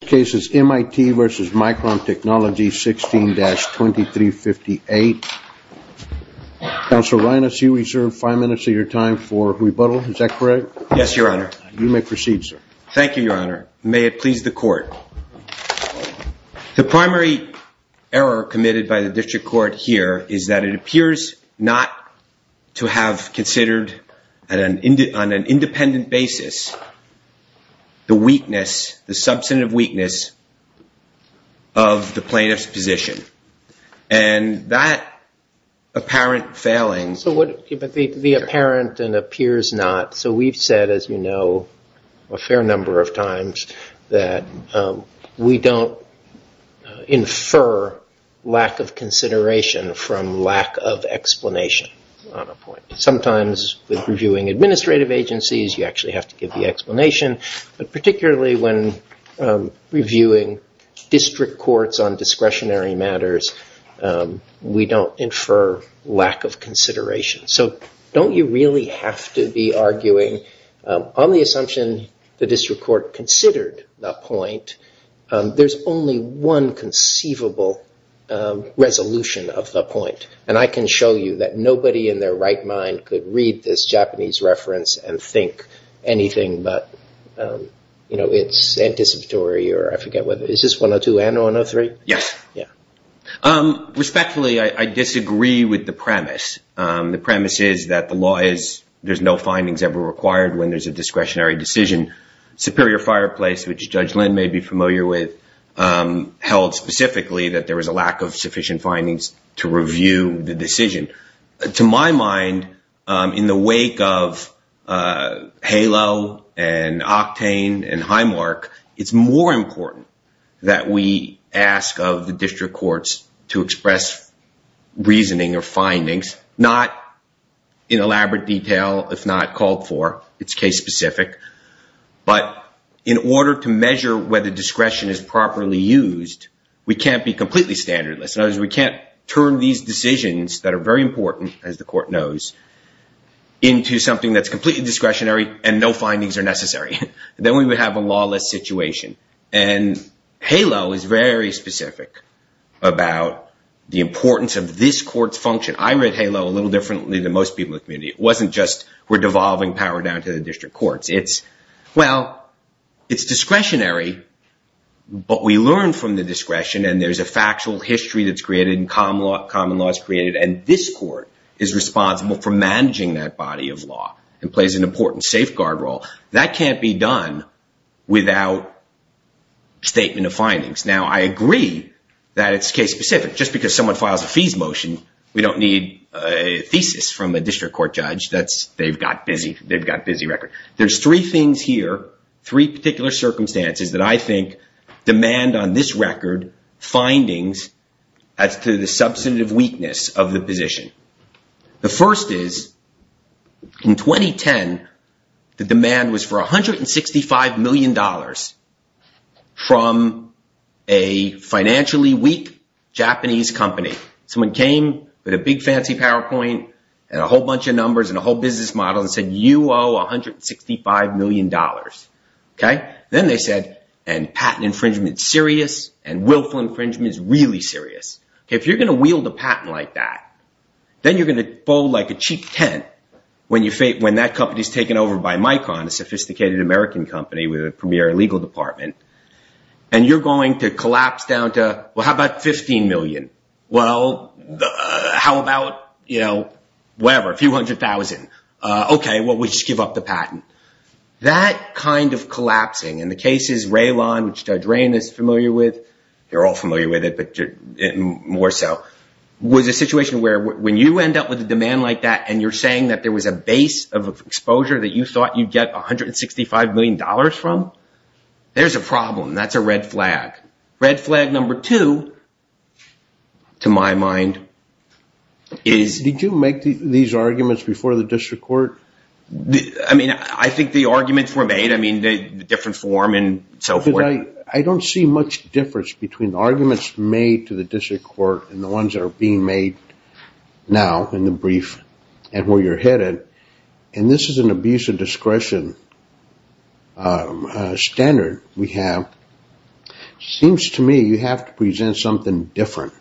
The case is MIT v. Micron Technology, 16-2358. Counsel Reines, you reserve five minutes of your time for rebuttal. Is that correct? Yes, Your Honor. You may proceed, sir. Thank you, Your Honor. May it please the court. The primary error committed by the district court here is that it appears not to have considered on an independent basis the substantive weakness of the plaintiff's position. And that apparent failing. So the apparent and appears not. So we've said, as you know, a fair number of times that we don't infer lack of consideration from lack of explanation on a point. Sometimes with reviewing administrative agencies, you actually have to give the explanation. But particularly when reviewing district courts on discretionary matters, we don't infer lack of consideration. So don't you really have to be arguing, on the assumption the district court considered the point, there's only one conceivable resolution of the point. And I can show you that nobody in their right mind could read this Japanese reference and think anything but it's anticipatory, or I forget whether it's just 102 and 103? Yes. Respectfully, I disagree with the premise. The premise is that the law is there's no findings ever required when there's a discretionary decision. Superior Fireplace, which Judge Lynn may be familiar with, held specifically that there was a lack of sufficient findings to review the decision. To my mind, in the wake of HALO and Octane and Highmark, it's more important that we ask of the district courts to express reasoning or findings, not in elaborate detail, if not called for. It's case specific. But in order to measure whether discretion is properly used, we can't be completely standardless. We can't turn these decisions that are very important, as the court knows, into something that's completely discretionary and no findings are necessary. Then we would have a lawless situation. And HALO is very specific about the importance of this court's function. I read HALO a little differently than most people in the community. It wasn't just we're devolving power down to the district courts. Well, it's discretionary, but we learn from the discretion. And there's a factual history that's created and common law is created. And this court is responsible for managing that body of law and plays an important safeguard role. That can't be done without statement of findings. Now, I agree that it's case specific. Just because someone files a fees motion, we don't need a thesis from a district court judge. They've got a busy record. There's three things here, three particular circumstances, that I think demand on this record findings as to the substantive weakness of the position. The first is, in 2010, the demand was for $165 million from a financially weak Japanese company. Someone came with a big fancy PowerPoint and a whole bunch of numbers and a whole business model and said, you owe $165 million. OK? Then they said, and patent infringement's serious, and willful infringement is really serious. If you're going to wield a patent like that, then you're going to fold like a cheap tent when that company's taken over by Micron, a sophisticated American company with a premier legal department. And you're going to collapse down to, well, how about $15 million? OK, well, we just give up the patent. That kind of collapsing, in the cases Raylon, which Judge Rain is familiar with, you're all familiar with it, but more so, was a situation where when you end up with a demand like that and you're saying that there was a base of exposure that you thought you'd get $165 million from, there's a problem. That's a red flag. Red flag number two, to my mind, is Did you make these arguments before the district court? I mean, I think the arguments were made. I mean, the different form and so forth. I don't see much difference between the arguments made to the district court and the ones that are being made now in the brief and where you're headed. And this is an abuse of discretion standard we have. Seems to me you have to present something different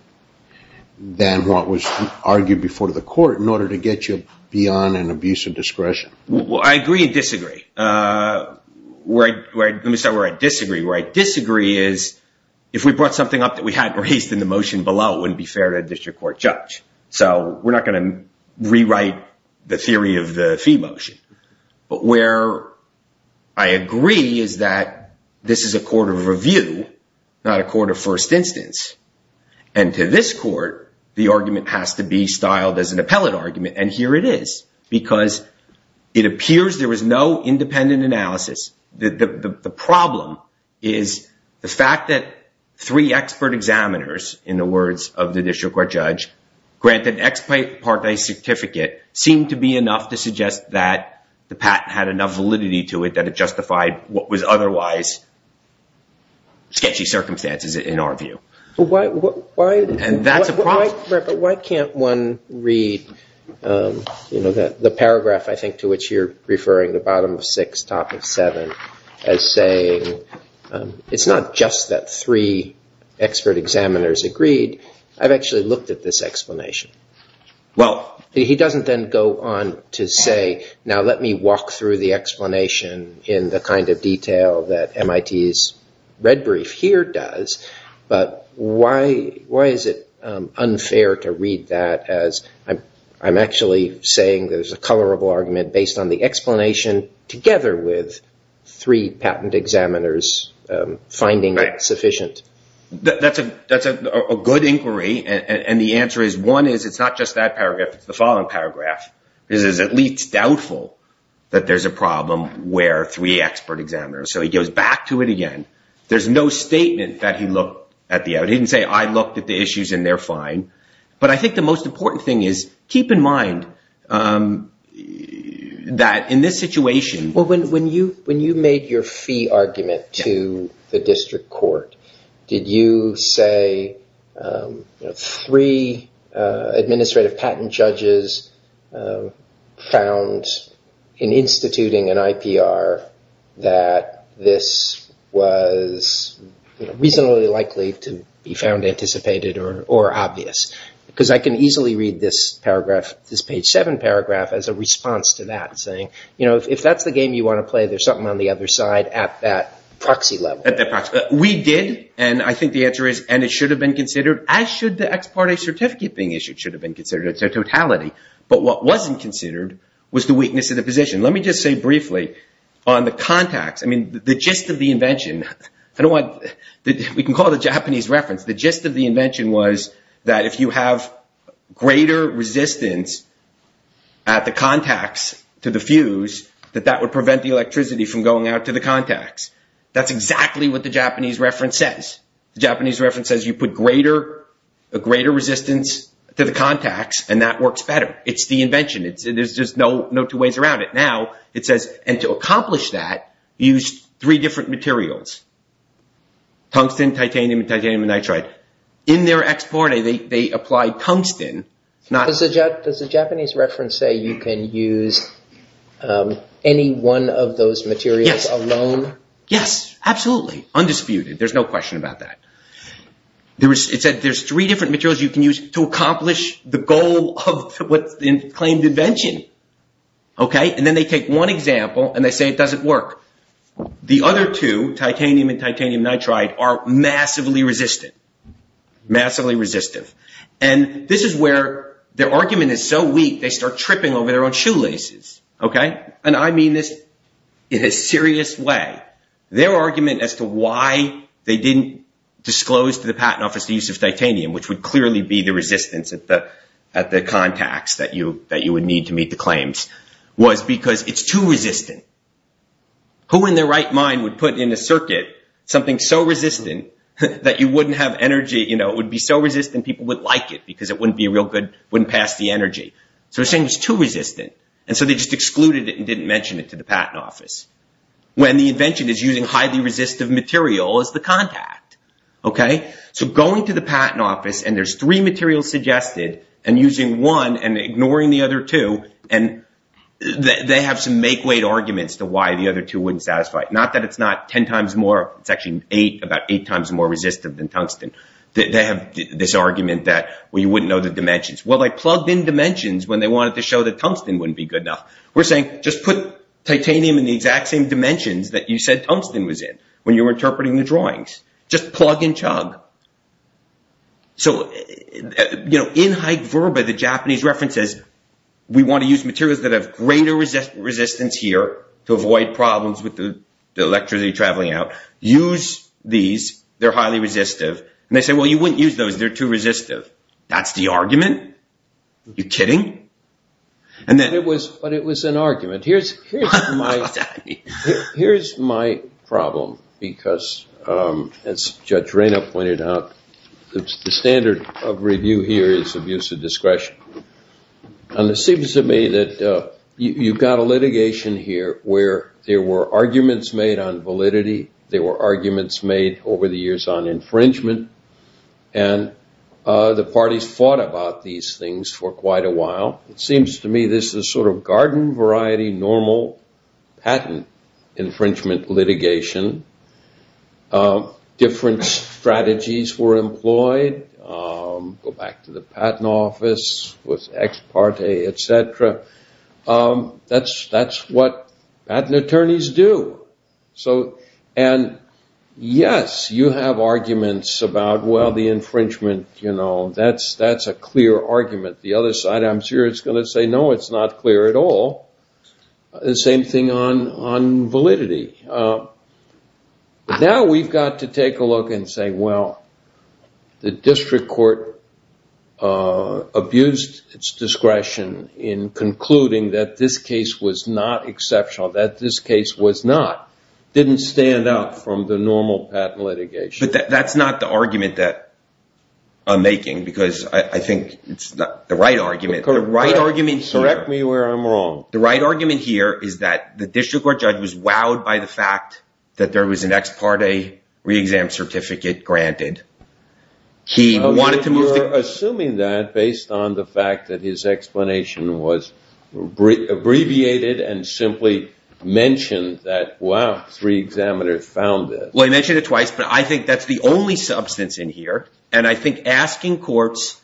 than what was argued before the court in order to get you beyond an abuse of discretion. Well, I agree and disagree. Let me start where I disagree. Where I disagree is if we brought something up that we hadn't raised in the motion below, it wouldn't be fair to a district court judge. So we're not going to rewrite the theory of the fee motion. But where I agree is that this is a court of review, not a court of first instance. And to this court, the argument has to be styled as an appellate argument. And here it is. Because it appears there was no independent analysis. The problem is the fact that three expert examiners, in the words of the district court judge, granted ex parte certificate seemed to be enough to suggest that the patent had enough validity to it that it justified what was otherwise sketchy circumstances in our view. And that's a problem. But why can't one read the paragraph, I think, to which you're referring, the bottom of six, top of seven, as saying, it's not just that three expert examiners agreed. I've actually looked at this explanation. Well, he doesn't then go on to say, now let me walk through the explanation in the kind of detail that MIT's red brief here does. But why is it unfair to read that as I'm actually saying there's a colorable argument based on the explanation together with three patent examiners finding it sufficient? That's a good inquiry. And the answer is, one, it's not just that paragraph. It's the following paragraph. It is at least doubtful that there's a problem where three expert examiners. So he goes back to it again. There's no statement that he looked at the end. He didn't say, I looked at the issues and they're fine. But I think the most important thing is, keep in mind that in this situation. Well, when you made your fee argument to the district court, did you say three administrative patent judges found in instituting an IPR that this was reasonably likely to be found anticipated or obvious? Because I can easily read this paragraph, this page seven paragraph, as a response to that saying, if that's the game you want to play, there's something on the other side at that proxy level. We did. And I think the answer is, and it should have been considered, as should the ex parte certificate being issued should have been considered. It's a totality. But what wasn't considered was the weakness of the position. Let me just say briefly, on the contacts, I mean, the gist of the invention, we can call it a Japanese reference. The gist of the invention was that if you have greater resistance at the contacts to the fuse, that that would prevent the electricity from going out to the contacts. That's exactly what the Japanese reference says. The Japanese reference says you put a greater resistance to the contacts, and that works better. It's the invention. There's just no two ways around it. Now, it says, and to accomplish that, use three different materials. Tungsten, titanium, and titanium nitride. In their ex parte, they applied tungsten. Does the Japanese reference say you can use any one of those materials alone? Yes, absolutely. Undisputed. There's no question about that. It said there's three different materials you can use to accomplish the goal of what's been claimed invention. And then they take one example, and they say it doesn't work. The other two, titanium and titanium nitride, are massively resistant. Massively resistive. And this is where their argument is so weak, they start tripping over their own shoelaces. And I mean this in a serious way. Their argument as to why they didn't disclose to the patent office the use of titanium, which would clearly be the resistance at the contacts that you would need to meet the claims, was because it's too resistant. Who in their right mind would put in a circuit something so resistant that you wouldn't have energy? It would be so resistant, people would like it, because it wouldn't be real good. It wouldn't pass the energy. So they're saying it's too resistant. And so they just excluded it and didn't mention it to the patent office, when the invention is using highly resistive material as the contact. OK? So going to the patent office and there's three materials suggested, and using one and ignoring the other two, and they have some make-weight arguments to why the other two wouldn't satisfy. Not that it's not 10 times more, it's actually about eight times more resistant than tungsten. They have this argument that you wouldn't know the dimensions. Well, they plugged in dimensions when they wanted to show that tungsten wouldn't be good enough. We're saying, just put titanium in the exact same dimensions that you said tungsten was in, when you were interpreting the drawings. Just plug and chug. So in Hyke-Verba, the Japanese reference says, we want to use materials that have greater resistance here, to avoid problems with the electricity traveling out. Use these. They're highly resistive. And they say, well, you wouldn't use those. They're too resistive. That's the argument? You're kidding? But it was an argument. What does that mean? Here's my problem. Because as Judge Raynault pointed out, the standard of review here is abuse of discretion. And it seems to me that you've got a litigation here where there were arguments made on validity. There were arguments made over the years on infringement. And the parties fought about these things for quite a while. It seems to me this is sort of garden variety, normal patent infringement litigation. Different strategies were employed. Go back to the patent office with ex parte, et cetera. That's what patent attorneys do. And yes, you have arguments about, well, the infringement. That's a clear argument. The other side, I'm sure, is going to say, no, it's not clear at all. The same thing on validity. Now we've got to take a look and say, well, the district court abused its discretion in concluding that this case was not exceptional, that this case was not, didn't stand out from the normal patent litigation. But that's not the argument that I'm making. Because I think it's not the right argument. Correct me where I'm wrong. The right argument here is that the district court judge was wowed by the fact that there was an ex parte re-exam certificate granted. He wanted to move the court. We're assuming that based on the fact that his explanation was abbreviated and simply mentioned that, wow, three examiners found it. Well, he mentioned it twice. But I think that's the only substance in here. And I think asking courts,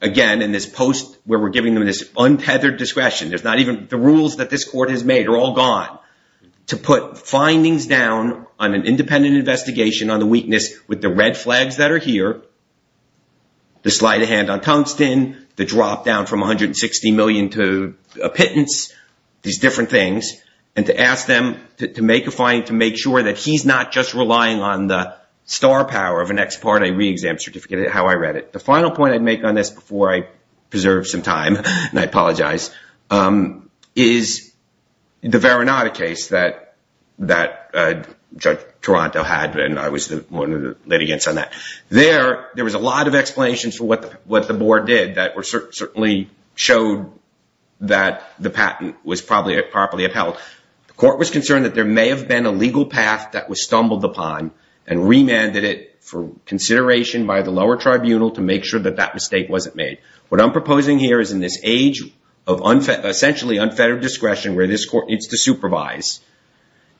again, in this post where we're giving them this untethered discretion, the rules that this court has made are all gone, to put findings down on an independent investigation on the weakness with the red flags that are here, the slight of hand on Tungsten, the drop down from $160 million to a pittance, these different things, and to ask them to make a finding to make sure that he's not just relying on the star power of an ex parte re-exam certificate, how I read it. The final point I'd make on this before I preserve some time, and I apologize, is the Veronata case that Judge Toronto had. And I was one of the litigants on that. There, there was a lot of explanations for what the board did that certainly showed that the patent was probably properly upheld. The court was concerned that there may have been a legal path that was stumbled upon and remanded it for consideration by the lower tribunal to make sure that that mistake wasn't made. What I'm proposing here is in this age of essentially unfettered discretion where this court needs to supervise,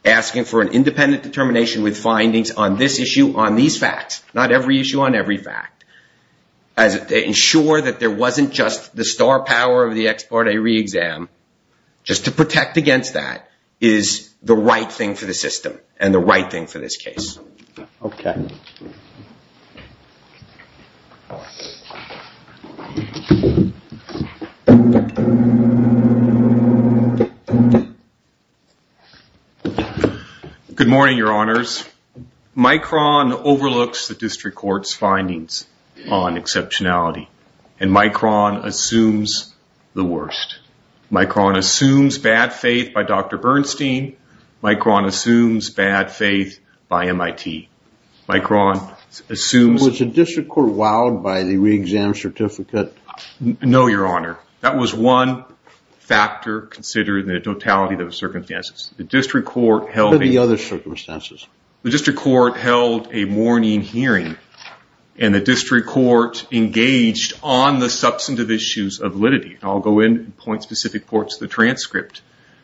asking for an independent determination with findings on this issue, on these facts, not every issue on every fact, as to ensure that there wasn't just the star power of the ex parte re-exam. Just to protect against that is the right thing for the system and the right thing for this case. OK. Good morning, your honors. Micron overlooks the district court's findings on exceptionality. And Micron assumes the worst. Micron assumes bad faith by Dr. Bernstein. Micron assumes bad faith by MIT. Micron assumes- Was the district court wowed by the re-exam certificate? No, your honor. That was one factor considered in the totality of the circumstances. The district court held a- What are the other circumstances? The district court held a morning hearing. And the district court engaged on the substantive issues of validity. I'll go in and point specific points to the transcript.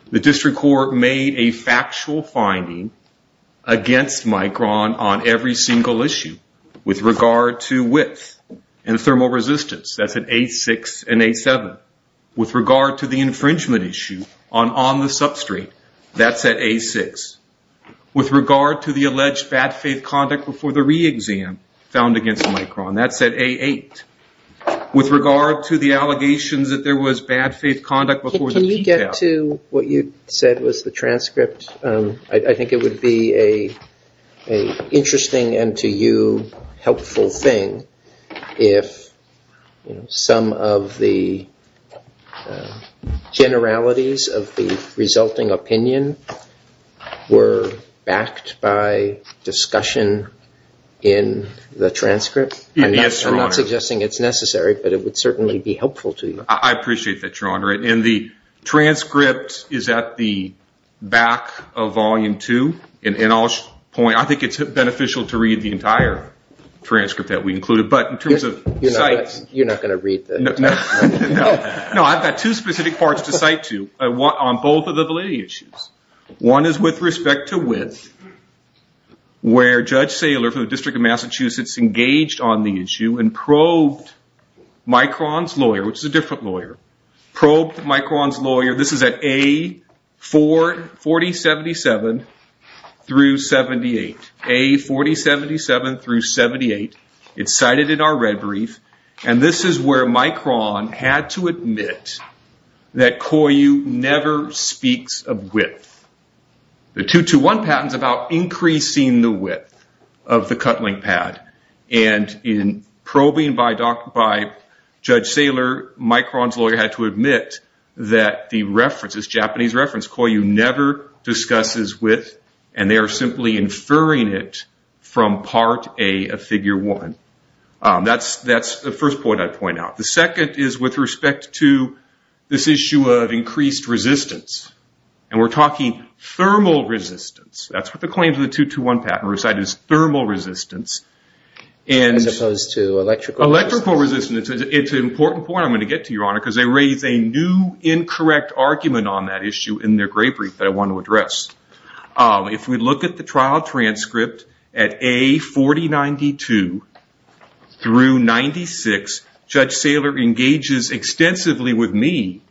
The district court made a factual finding against Micron on every single issue with regard to width and thermal resistance. That's at A6 and A7. With regard to the infringement issue on the substrate, that's at A6. With regard to the alleged bad faith conduct before the re-exam found against Micron, that's at A8. With regard to the allegations that there was bad faith conduct before the PTAP. With regard to what you said was the transcript, I think it would be an interesting and, to you, helpful thing if some of the generalities of the resulting opinion were backed by discussion in the transcript. Yes, your honor. I'm not suggesting it's necessary, I appreciate that, your honor. And the transcript is at the back of volume two. And I'll point, I think it's beneficial to read the entire transcript that we included. But in terms of sites. You're not going to read the entire volume. No, I've got two specific parts to cite to, on both of the validity issues. One is with respect to width, where Judge Saylor from the District of Massachusetts engaged on the issue and probed Micron's lawyer, which is a different lawyer, probed Micron's lawyer. This is at A4077 through 78. A4077 through 78. It's cited in our red brief. And this is where Micron had to admit that COIU never speaks of width. The 221 patent's about increasing the width of the cut link pad. And in probing by Judge Saylor, Micron's lawyer had to admit that the reference, this Japanese reference, COIU never discusses width. And they are simply inferring it from part A of figure one. That's the first point I'd point out. The second is with respect to this issue of increased resistance. And we're talking thermal resistance. That's what the claims of the 221 patent were cited as thermal resistance. As opposed to electrical resistance. Electrical resistance. It's an important point I'm going to get to, Your Honor, because they raise a new incorrect argument on that issue in their gray brief that I want to address. If we look at the trial transcript at A4092 through 96, Judge Saylor engages extensively with me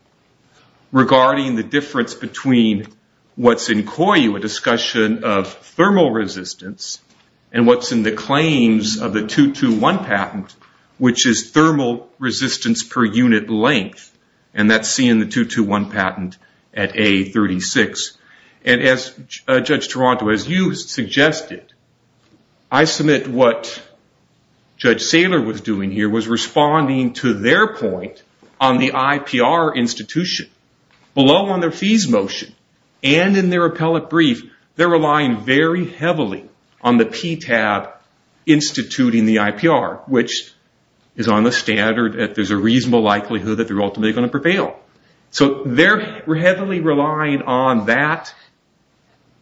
regarding the difference between what's in COIU, a discussion of thermal resistance, and what's in the claims of the 221 patent, which is thermal resistance per unit length. And that's seen in the 221 patent at A36. And as Judge Toronto, as you suggested, I submit what Judge Saylor was doing here was responding to their point on the IPR institution. Below on their fees motion and in their appellate brief, they're relying very heavily on the PTAB instituting the IPR, which is on the standard that there's a reasonable likelihood that they're ultimately going to prevail. So they're heavily relying on that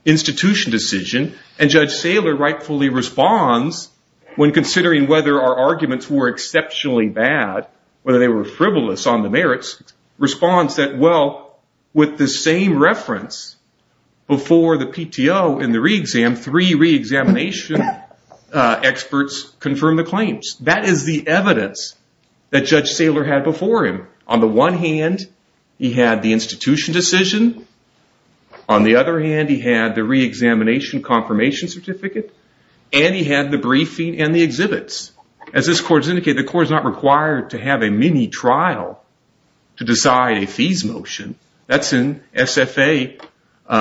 institution decision. And Judge Saylor rightfully responds when considering whether our arguments were exceptionally bad, whether they were frivolous on the merits, responds that, well, with the same reference before the PTO in the re-exam, three re-examination experts confirm the claims. That is the evidence that Judge Saylor had before him. On the one hand, he had the institution decision. On the other hand, he had the re-examination confirmation certificate. And he had the briefing and the exhibits. As this court has indicated, the court is not required to have a mini-trial to decide a fees motion. That's in SFA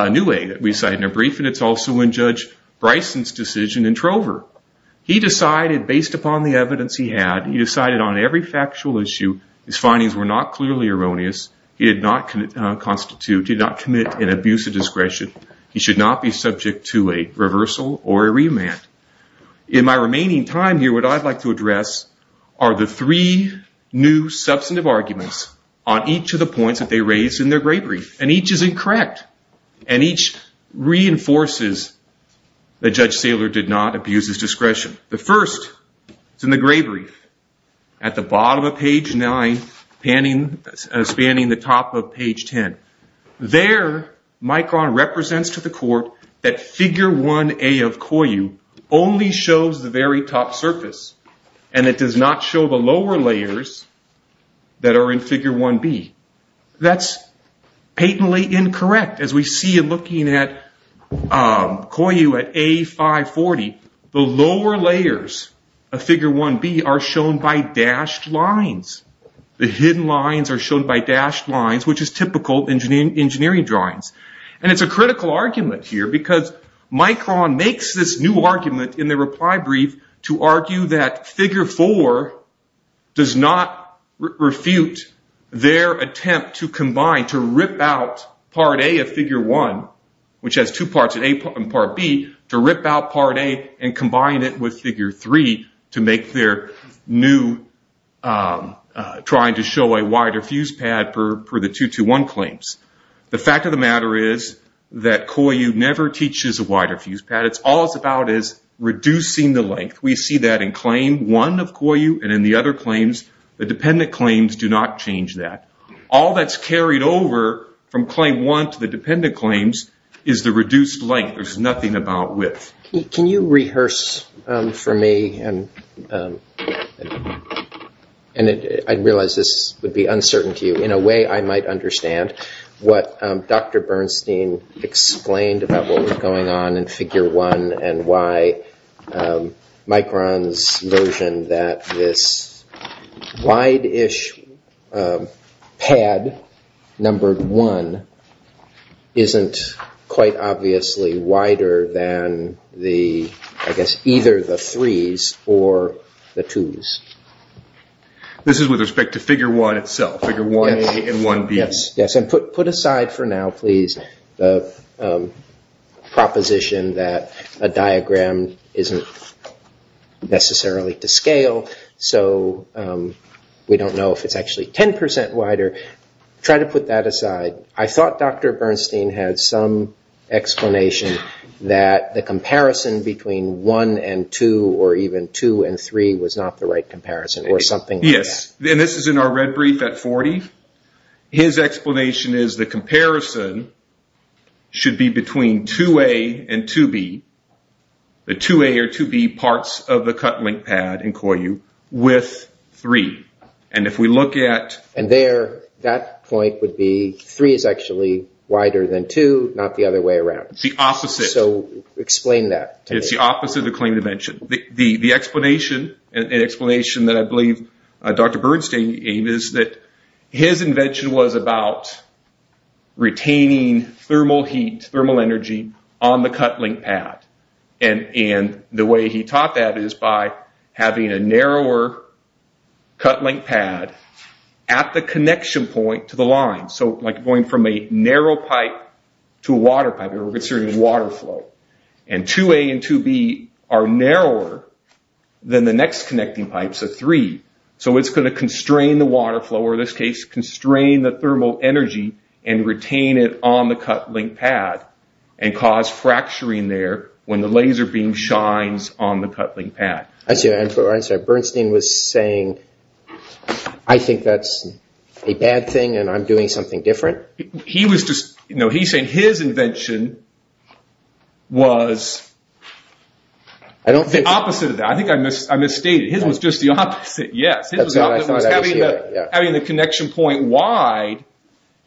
new way that we decided in a briefing. It's also in Judge Bryson's decision in Trover. He decided, based upon the evidence he had, he decided on every factual issue his findings were not clearly erroneous. He did not constitute, did not commit an abuse of discretion. He should not be subject to a reversal or a remand. In my remaining time here, what I'd like to address are the three new substantive arguments on each of the points that they raised in their grade brief. And each is incorrect. And each reinforces that Judge Saylor did not abuse his discretion. The first is in the grade brief, at the bottom of page 9, spanning the top of page 10. There, Micron represents to the court that figure 1A of COIU only shows the very top surface. And it does not show the lower layers that are in figure 1B. That's patently incorrect. As we see in looking at COIU at A540, the lower layers of figure 1B are shown by dashed lines. The hidden lines are shown by dashed lines, which is typical in engineering drawings. And it's a critical argument here, because Micron makes this new argument in the reply brief to argue that figure 4 does not refute their attempt to combine, to rip out part A of figure 1, which has two parts, A and part B, to rip out part A and combine it with figure 3 to make their new trying to show a wider fuse pad for the 221 claims. The fact of the matter is that COIU never teaches a wider fuse pad. All it's about is reducing the length. We see that in claim 1 of COIU and in the other claims. The dependent claims do not change that. All that's carried over from claim 1 to the dependent claims is the reduced length. There's nothing about width. Can you rehearse for me, and I realize this would be uncertain to you. In a way, I might understand what Dr. Bernstein explained about what was going on in figure 1 and why Micron's version that this wide-ish pad, numbered 1, isn't quite obviously wider than, I guess, either the 3's or the 2's. This is with respect to figure 1 itself, figure 1A and 1B. Yes, and put aside for now, please, the proposition that a diagram isn't necessarily to scale. So we don't know if it's actually 10% wider. Try to put that aside. I thought Dr. Bernstein had some explanation that the comparison between 1 and 2, or even 2 and 3, was not the right comparison, or something like that. Yes, and this is in our red brief at 40. His explanation is the comparison should be between 2A and 2B, the 2A or 2B parts of the cut link pad in COIU, with 3. And if we look at- And there, that point would be 3 is actually wider than 2, not the other way around. It's the opposite. So explain that to me. It's the opposite of the claim to mention. The explanation, an explanation that I believe Dr. Bernstein gave is that his invention was about retaining thermal heat, thermal energy on the cut link pad. And the way he taught that is by having a narrower cut link pad at the connection point to the line, so like going from a narrow pipe to a water pipe. And we're considering water flow. And 2A and 2B are narrower than the next connecting pipes, the three. So it's going to constrain the water flow, or in this case, constrain the thermal energy, and retain it on the cut link pad, and cause fracturing there when the laser beam shines on the cut link pad. I see what you're saying. Bernstein was saying, I think that's a bad thing, and I'm doing something different. He was just, no, he's saying his invention was the opposite of that. I think I misstated. His was just the opposite, yes. His was having the connection point wide,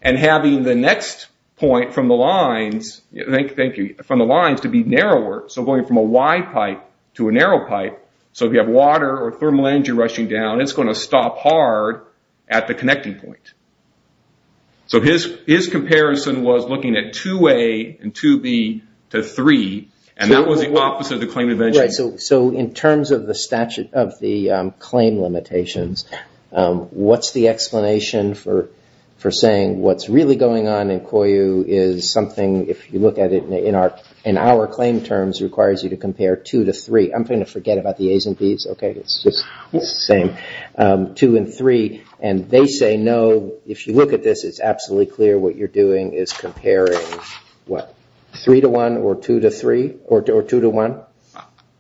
and having the next point from the lines, thank you, from the lines to be narrower. So going from a wide pipe to a narrow pipe, so if you have water or thermal energy rushing down, it's going to stop hard at the connecting point. So his comparison was looking at 2A and 2B to three, and that was the opposite of the claimant invention. So in terms of the claim limitations, what's the explanation for saying what's really going on in COIU is something, if you look at it in our claim terms, requires you to compare two to three. I'm going to forget about the A's and B's. It's just the same, two and three. And they say, no, if you look at this, it's absolutely clear what you're doing is comparing three to one, or two to three, or two to one.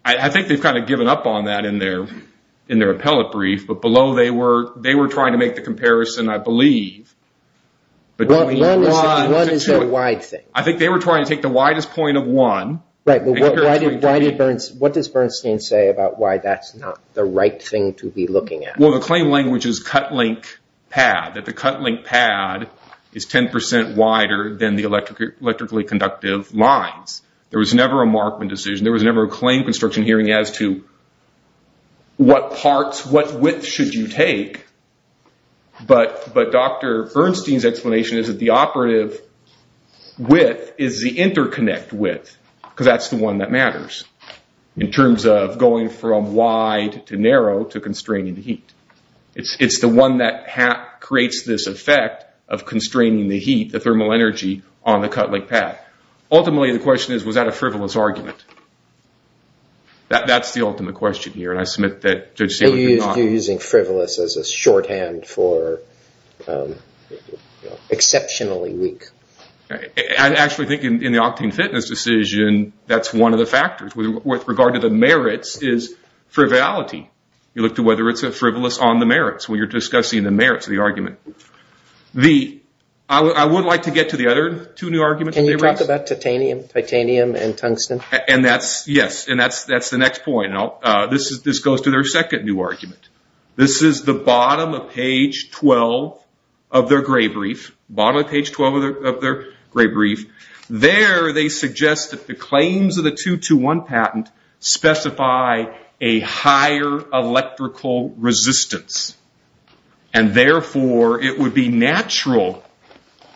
I think they've given up on that in their appellate brief, but below they were trying to make the comparison, I believe, between one and two. One is a wide thing. I think they were trying to take the widest point of one. What does Bernstein say about why that's not the right thing to be looking at? Well, the claim language is cut link pad, that the cut link pad is 10% wider than the electrically conductive lines. There was never a Markman decision. There was never a claim construction hearing as to what width should you take. But Dr. Bernstein's explanation is that the operative width is the interconnect width, because that's the one that matters in terms of going from wide to narrow to constraining the heat. It's the one that creates this effect of constraining the heat, the thermal energy, on the cut link pad. Ultimately, the question is, was that a frivolous argument? That's the ultimate question here, and I submit that Judge Staley did not. You're using frivolous as a shorthand for exceptionally weak. I actually think in the octane fitness decision, that's one of the factors. With regard to the merits is frivolity. You look to whether it's a frivolous on the merits when you're discussing the merits of the argument. I would like to get to the other two new arguments. Can you talk about titanium and tungsten? Yes, and that's the next point. This goes to their second new argument. This is the bottom of page 12 of their gray brief. Bottom of page 12 of their gray brief. There, they suggest that the claims of the 221 patent specify a higher electrical resistance, and therefore, it would be natural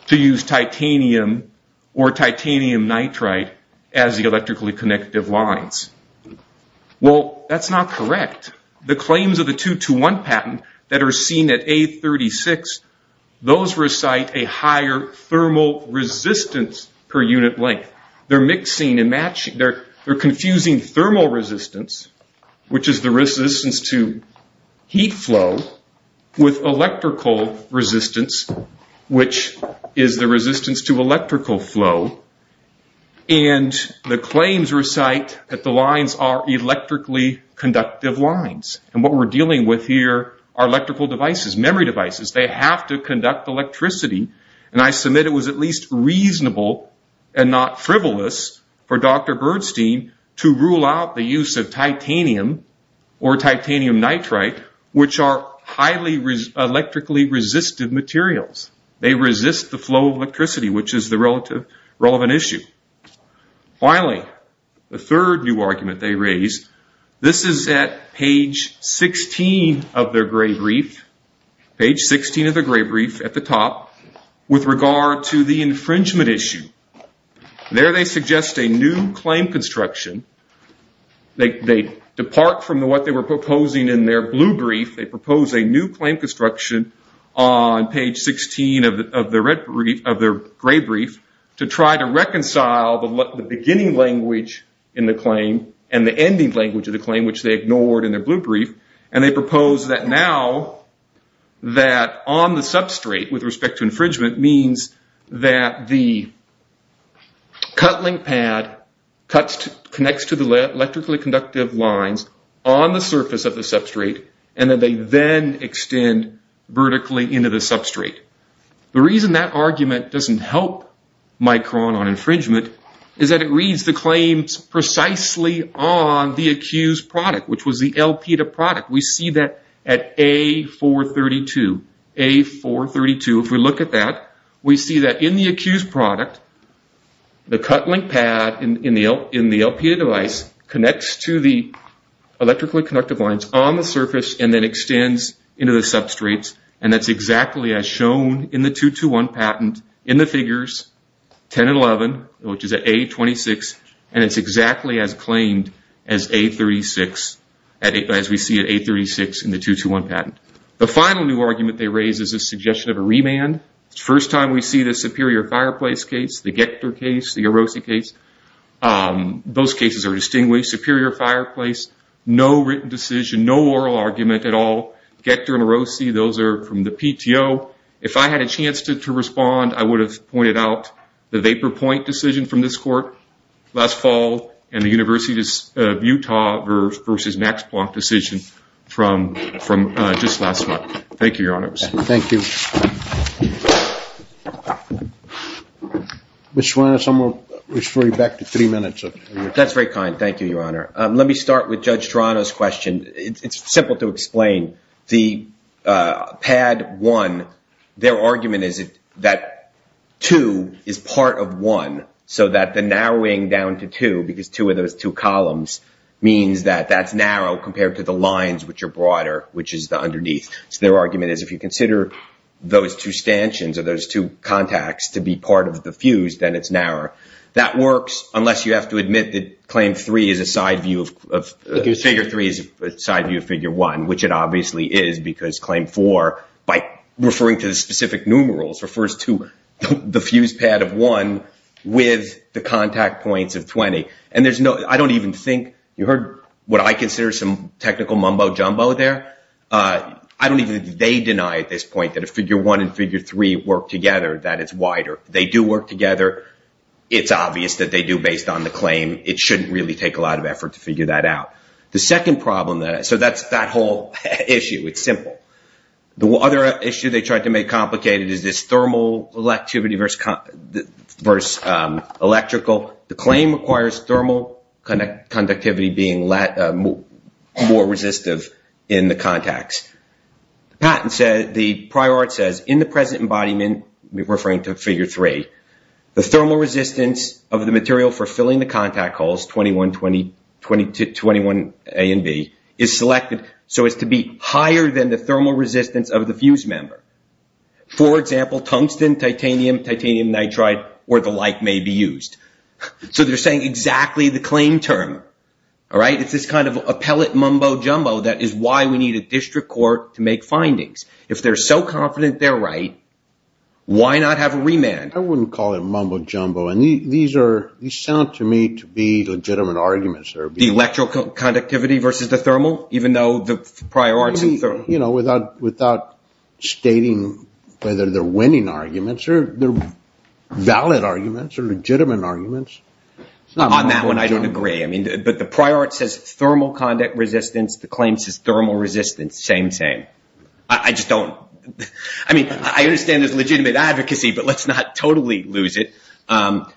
to use titanium or titanium nitride as the electrically connective lines. Well, that's not correct. The claims of the 221 patent that are seen at A36, those recite a higher thermal resistance per unit length. They're mixing and matching. They're confusing thermal resistance, which is the resistance to heat flow, with electrical resistance, which is the resistance to electrical flow. And the claims recite that the lines are electrically conductive lines. And what we're dealing with here are electrical devices, memory devices. They have to conduct electricity. And I submit it was at least reasonable and not frivolous for Dr. Birdstein to rule out the use of titanium or titanium nitride, which are highly electrically resistive materials. They resist the flow of electricity, which is the relevant issue. Finally, the third new argument they raise. This is at page 16 of their gray brief. Page 16 of their gray brief at the top with regard to the infringement issue. There they suggest a new claim construction. They depart from what they were proposing in their blue brief. They propose a new claim construction on page 16 of their gray brief to try to reconcile the beginning language in the claim and the ending language of the claim, which they ignored in their blue brief. And they propose that now that on the substrate with respect to infringement means that the cut link pad connects to the electrically conductive lines on the surface of the substrate, and that they then extend vertically into the substrate. The reason that argument doesn't help Micron on infringement is that it reads the claims precisely on the accused product which was the LP to product. We see that at A432. A432, if we look at that, we see that in the accused product, the cut link pad in the LP to device connects to the electrically conductive lines on the surface and then extends into the substrates. And that's exactly as shown in the 221 patent in the figures 10 and 11, which is at A26. And it's exactly as claimed as A36 as we see at A36 in the 221 patent. The final new argument they raise is a suggestion of a remand. It's the first time we see the Superior Fireplace case, the Gector case, the Orosi case. Those cases are distinguished. Superior Fireplace, no written decision, no oral argument at all. Gector and Orosi, those are from the PTO. If I had a chance to respond, I would have pointed out the Vapor Point decision from this court last fall and the University of Utah versus Max Planck decision from just last month. Thank you, Your Honor. Thank you. Mr. Suarez, I'm gonna refer you back to three minutes. That's very kind. Thank you, Your Honor. Let me start with Judge Serrano's question. It's simple to explain. The pad one, their argument is that two is part of one so that the narrowing down to two, because two of those two columns means that that's narrow compared to the lines which are broader, which is the underneath. So their argument is if you consider those two stanchions or those two contacts to be part of the fuse, then it's narrow. That works unless you have to admit that claim three is a side view of, figure three is a side view of figure one, which it obviously is because claim four, by referring to the specific numerals, refers to the fuse pad of one with the contact points of 20. And there's no, I don't even think, you heard what I consider some technical mumbo-jumbo there. I don't even think they deny at this point that if figure one and figure three work together that it's wider. They do work together. It's obvious that they do based on the claim. It shouldn't really take a lot of effort to figure that out. The second problem, so that's that whole issue. It's simple. The other issue they tried to make complicated is this thermal electivity versus electrical. The claim requires thermal conductivity being more resistive in the contacts. The patent says, the prior art says, in the present embodiment, referring to figure three, the thermal resistance of the material for filling the contact holes, 21A and B, is selected so as to be higher than the thermal resistance of the fuse member. For example, tungsten, titanium, titanium nitride, or the like may be used. So they're saying exactly the claim term. All right, it's this kind of appellate mumbo-jumbo that is why we need a district court to make findings. If they're so confident they're right, why not have a remand? I wouldn't call it mumbo-jumbo. And these are, these sound to me to be legitimate arguments. The electrical conductivity versus the thermal, even though the prior art's in thermal. Without stating whether they're winning arguments, they're valid arguments or legitimate arguments. On that one, I don't agree. But the prior art says thermal conduct resistance. The claim says thermal resistance. Same, same. I just don't. I mean, I understand there's legitimate advocacy, but let's not totally lose it. But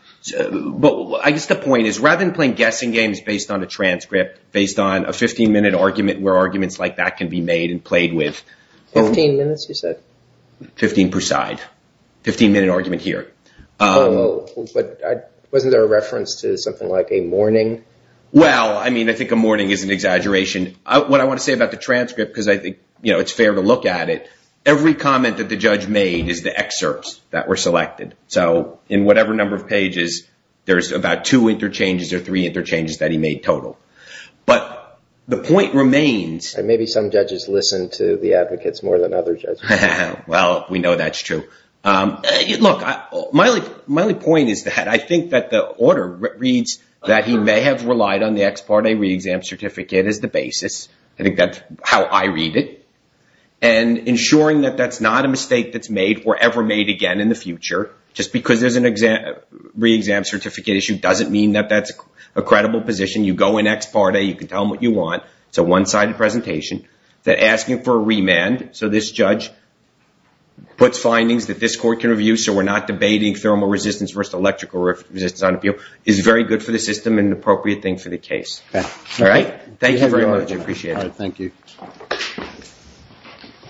I guess the point is, rather than playing guessing games based on a transcript, based on a 15 minute argument where arguments like that can be made and played with. 15 minutes, you said? 15 per side. 15 minute argument here. Wasn't there a reference to something like a mourning? Well, I mean, I think a mourning is an exaggeration. What I want to say about the transcript, because I think it's fair to look at it, every comment that the judge made is the excerpts that were selected. So in whatever number of pages, there's about two interchanges or three interchanges that he made total. But the point remains. Maybe some judges listen to the advocates more than other judges. Well, we know that's true. Look, my only point is that I think that the order reads that he may have relied on the ex parte re-exam certificate as the basis. I think that's how I read it. And ensuring that that's not a mistake that's made or ever made again in the future, just because there's a re-exam certificate issue doesn't mean that that's a credible position. You go in ex parte. You can tell them what you want. It's a one-sided presentation. They're asking for a remand. So this judge puts findings that this court can review. So we're not debating thermal resistance versus electrical resistance on appeal. It's very good for the system and an appropriate thing for the case. All right? Thank you very much. I appreciate it. Thank you.